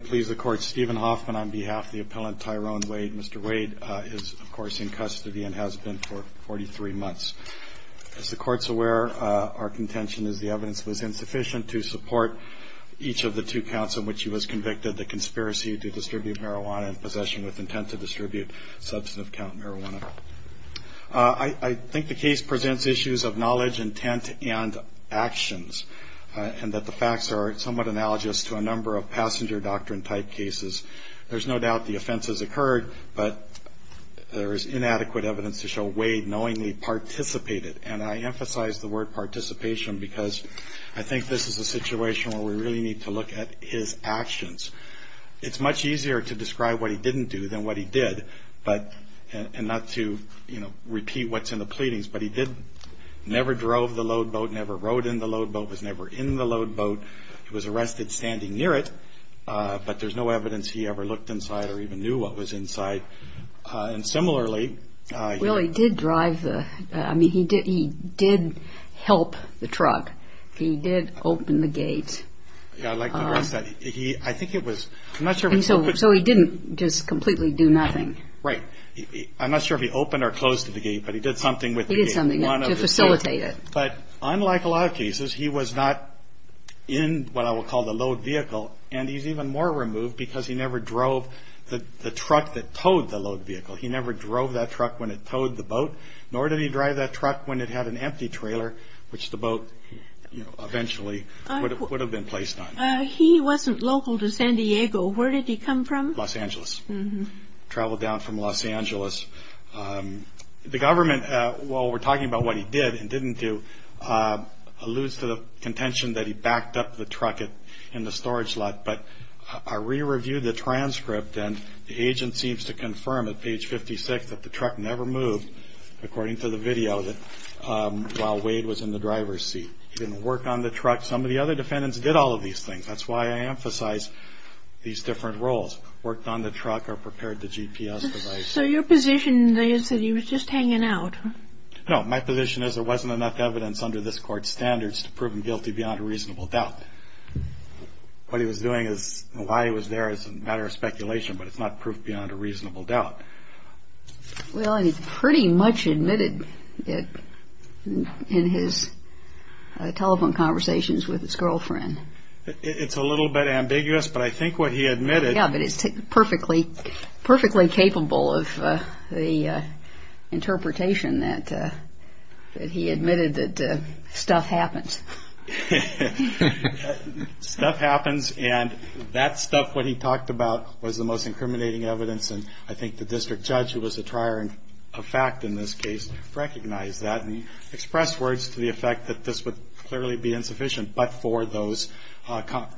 please the court Stephen Hoffman on behalf of the appellant Tyrone Wade. Mr. Wade is of course in custody and has been for 43 months. As the court's aware, our contention is the evidence was insufficient to support each of the two counts in which he was convicted, the conspiracy to distribute marijuana and possession with intent to distribute substantive count marijuana. I think the case presents issues of knowledge, intent and actions, and that the facts are somewhat analogous to a number of passenger doctrine type cases. There's no doubt the offenses occurred, but there is inadequate evidence to show Wade knowingly participated, and I emphasize the word participation because I think this is a situation where we really need to look at his actions. It's much easier to describe what he didn't do than what he did, and not to repeat what's in the pleadings, but he did never drove the load boat, never rode in the load boat, was never in the load boat. He was arrested standing near it, but there's no evidence he ever looked inside or even knew what was inside. And similarly... Well he did drive the, I mean he did help the truck. He did open the gate. I'd like to address that. I think it was, I'm not sure... So he didn't just completely do nothing. Right. I'm not sure if he opened or closed the gate, but he did something with the gate. He did something to facilitate it. But unlike a lot of cases, he was not in what I will call the load vehicle and he's even more removed because he never drove the truck that towed the load vehicle. He never drove that truck when it towed the boat, nor did he drive that truck when it had an empty trailer, which the boat eventually would have been placed on. He wasn't local to San Diego. Where did he come from? Los Angeles. Traveled down from Los Angeles. The government, while we're talking about what he did and didn't do, alludes to the contention that he backed up the truck in the storage lot. But I re-reviewed the transcript and the agent seems to confirm at page 56 that the truck never moved, according to the video, while Wade was in the driver's seat. He didn't work on the truck. Some of the other defendants did all of these things. That's why I emphasize these different roles. Worked on the truck or prepared the GPS device. So your position is that he was just hanging out? No, my position is there wasn't enough evidence under this court's standards to prove him guilty beyond a reasonable doubt. What he was doing is, why he was there is a matter of speculation, but it's not proof beyond a reasonable doubt. Well, he pretty much admitted it in his telephone conversations with his girlfriend. It's a little bit ambiguous, but I think what he admitted... Yeah, but it's perfectly capable of the interpretation that he admitted that stuff happens. Stuff happens, and that stuff, what he talked about, was the most incriminating evidence, and I think the district judge, who was a trier of fact in this case, recognized that and expressed words to the effect that this would clearly be insufficient, but for those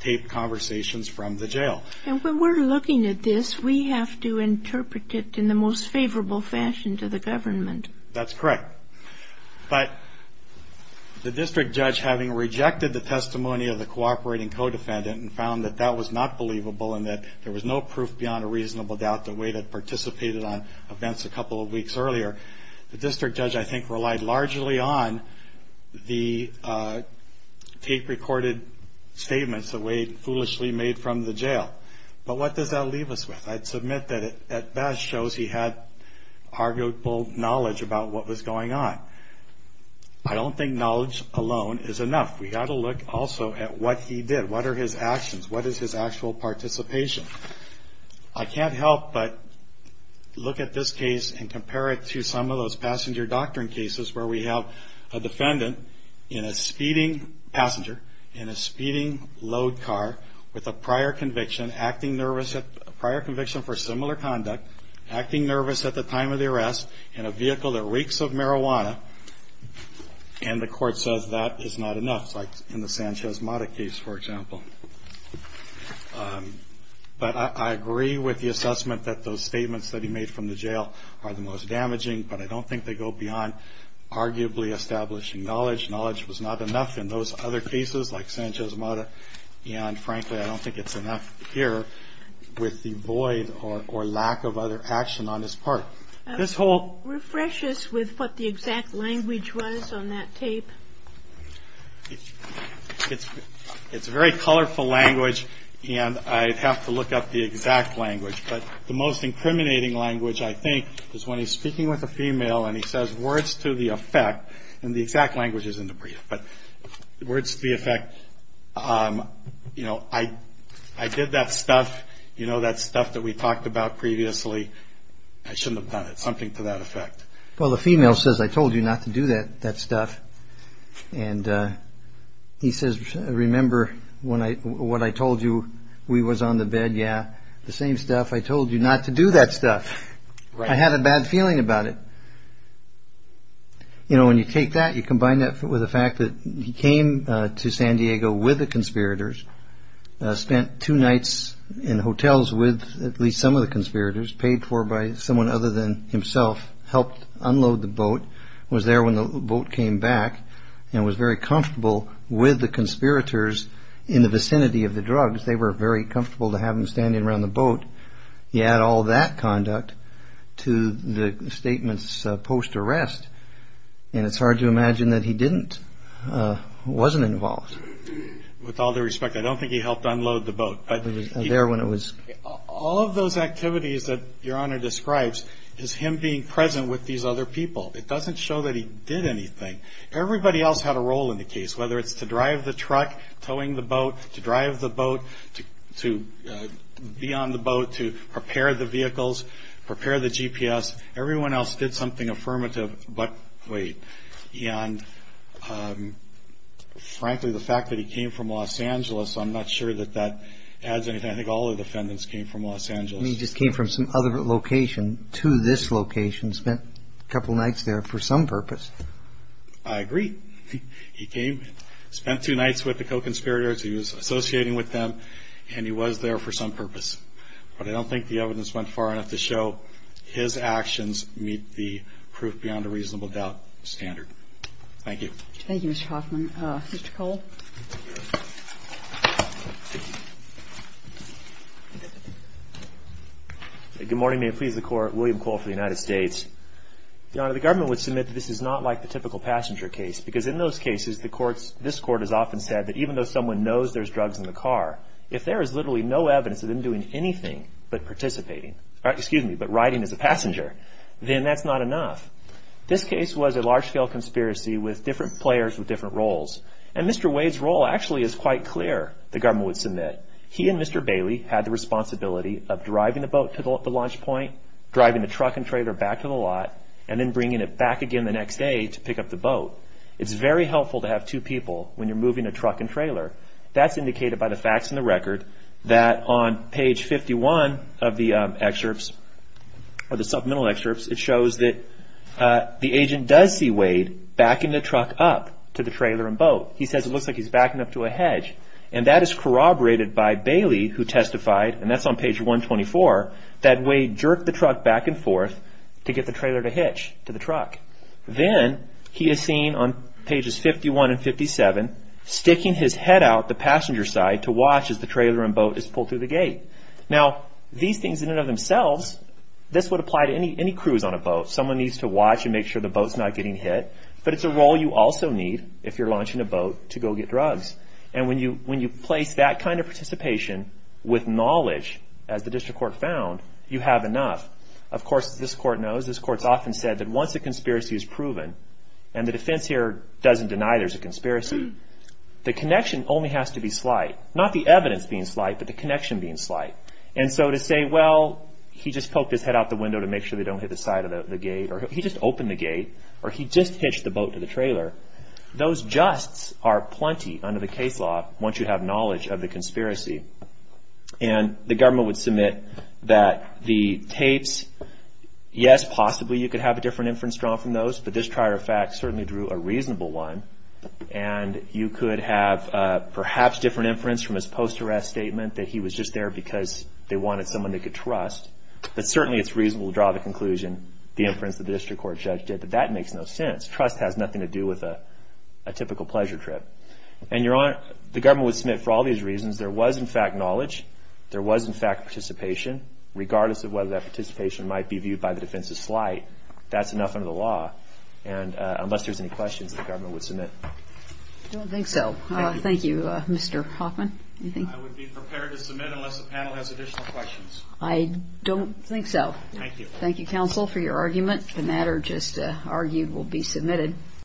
taped conversations from the jail. And when we're looking at this, we have to interpret it in the most favorable fashion to the government. That's correct. But the district judge, having rejected the testimony of the cooperating co-defendant and found that that was not believable and that there was no proof beyond a reasonable doubt that Wade had participated on events a couple of weeks earlier, the district judge, I think, relied largely on the tape-recorded statements that Wade foolishly made from the jail. But what does that leave us with? I'd submit that it best shows he had arguable knowledge about what was going on. I don't think knowledge alone is enough. We've got to look also at what he did. What are his actions? What is his actual participation? I can't help but look at this case and compare it to some of those passenger doctrine cases where we have a defendant in a speeding passenger, in a speeding load car, with a prior conviction, acting nervous, a prior conviction for similar conduct, acting nervous at the time of the arrest, in a vehicle that reeks of marijuana, and the court says that is not enough, like in the Sanchez-Mata case, for example. But I agree with the assessment that those statements that he made from the jail are the most damaging, but I don't think they go beyond arguably establishing knowledge. Knowledge was not enough in those other cases, like Sanchez-Mata, and, frankly, I don't think it's enough here with the void or lack of other action on his part. This whole... Refresh us with what the exact language was on that tape. It's very colorful language, and I'd have to look up the exact language, but the most incriminating language, I think, is when he's speaking with a female and he says words to the effect, and the exact language is in the brief, but words to the effect, you know, I did that stuff, you know, that stuff that we talked about previously, I shouldn't have done it, something to that effect. Well, the female says, I told you not to do that stuff, and he says, remember what I told you, we was on the bed, yeah, the same stuff, I told you not to do that stuff, I had a bad feeling about it. You know, when you take that, you combine that with the fact that he came to San Diego with the conspirators, spent two nights in hotels with at least some of the conspirators, paid for by someone other than himself, helped unload the boat, was there when the boat came back, and was very comfortable with the conspirators in the vicinity of the drugs. They were very comfortable to have him standing around the boat, he had all that conduct to the statements post-arrest, and it's hard to imagine that he didn't, wasn't involved. With all due respect, I don't think he helped unload the boat. He was there when it was. All of those activities that Your Honor describes is him being present with these other people. It doesn't show that he did anything. Everybody else had a role in the case, whether it's to drive the truck, towing the boat, to drive the boat, to be on the boat, to prepare the vehicles, prepare the GPS, everyone else did something affirmative, but wait. And frankly, the fact that he came from Los Angeles, I'm not sure that that adds anything. I think all the defendants came from Los Angeles. He just came from some other location to this location, spent a couple nights there for some purpose. I agree. He came, spent two nights with the co-conspirators he was associating with them, and he was there for some purpose. But I don't think the evidence went far enough to show his actions meet the proof beyond a reasonable doubt standard. Thank you. Thank you, Mr. Hoffman. Mr. Cole. Good morning. May it please the Court. William Cole for the United States. Your Honor, the government would submit that this is not like the typical passenger case, because in those cases, the courts, this Court has often said that even though someone knows there's drugs in the car, if there is literally no evidence of them doing anything but riding as a passenger, then that's not enough. This case was a large-scale conspiracy with different players with different roles. And Mr. Wade's role actually is quite clear, the government would submit. He and Mr. Bailey had the responsibility of driving the boat to the launch point, driving the truck and trailer back to the lot, and then bringing it back again the next day to pick up the boat. It's very helpful to have two people when you're moving a truck and trailer. That's indicated by the facts in the record that on page 51 of the excerpts, or the supplemental excerpts, it shows that the agent does see Wade backing the truck up to the trailer and boat. He says it looks like he's backing up to a hedge. And that is corroborated by Bailey, who testified, and that's on page 124, that Wade jerked the truck back and forth to get the trailer to hitch to the truck. Then he is seen on pages 51 and 57 sticking his head out the passenger side to watch as the trailer and boat is pulled through the gate. Now, these things in and of themselves, this would apply to any cruise on a boat. Someone needs to watch and make sure the boat's not getting hit. But it's a role you also need if you're launching a boat to go get drugs. And when you place that kind of participation with knowledge, as the district court found, you have enough. Of course, this court knows. This court's often said that once a conspiracy is proven, and the defense here doesn't deny there's a conspiracy, the connection only has to be slight. Not the evidence being slight, but the connection being slight. And so to say, well, he just poked his head out the window to make sure they don't hit the side of the gate, or he just opened the gate, or he just hitched the boat to the trailer, those justs are plenty under the case law once you have knowledge of the conspiracy. And the government would submit that the tapes, yes, possibly you could have a different inference drawn from those, but this prior fact certainly drew a reasonable one. And you could have perhaps different inference from his post-arrest statement, that he was just there because they wanted someone they could trust. But certainly it's reasonable to draw the conclusion, the inference that the district court judge did, that that makes no sense. Trust has nothing to do with a typical pleasure trip. The government would submit for all these reasons. There was, in fact, knowledge. There was, in fact, participation, regardless of whether that participation might be viewed by the defense as slight. That's enough under the law. Unless there's any questions, the government would submit. I don't think so. Thank you, Mr. Hoffman. I would be prepared to submit unless the panel has additional questions. I don't think so. Thank you, counsel, for your argument. The matter just argued will be submitted.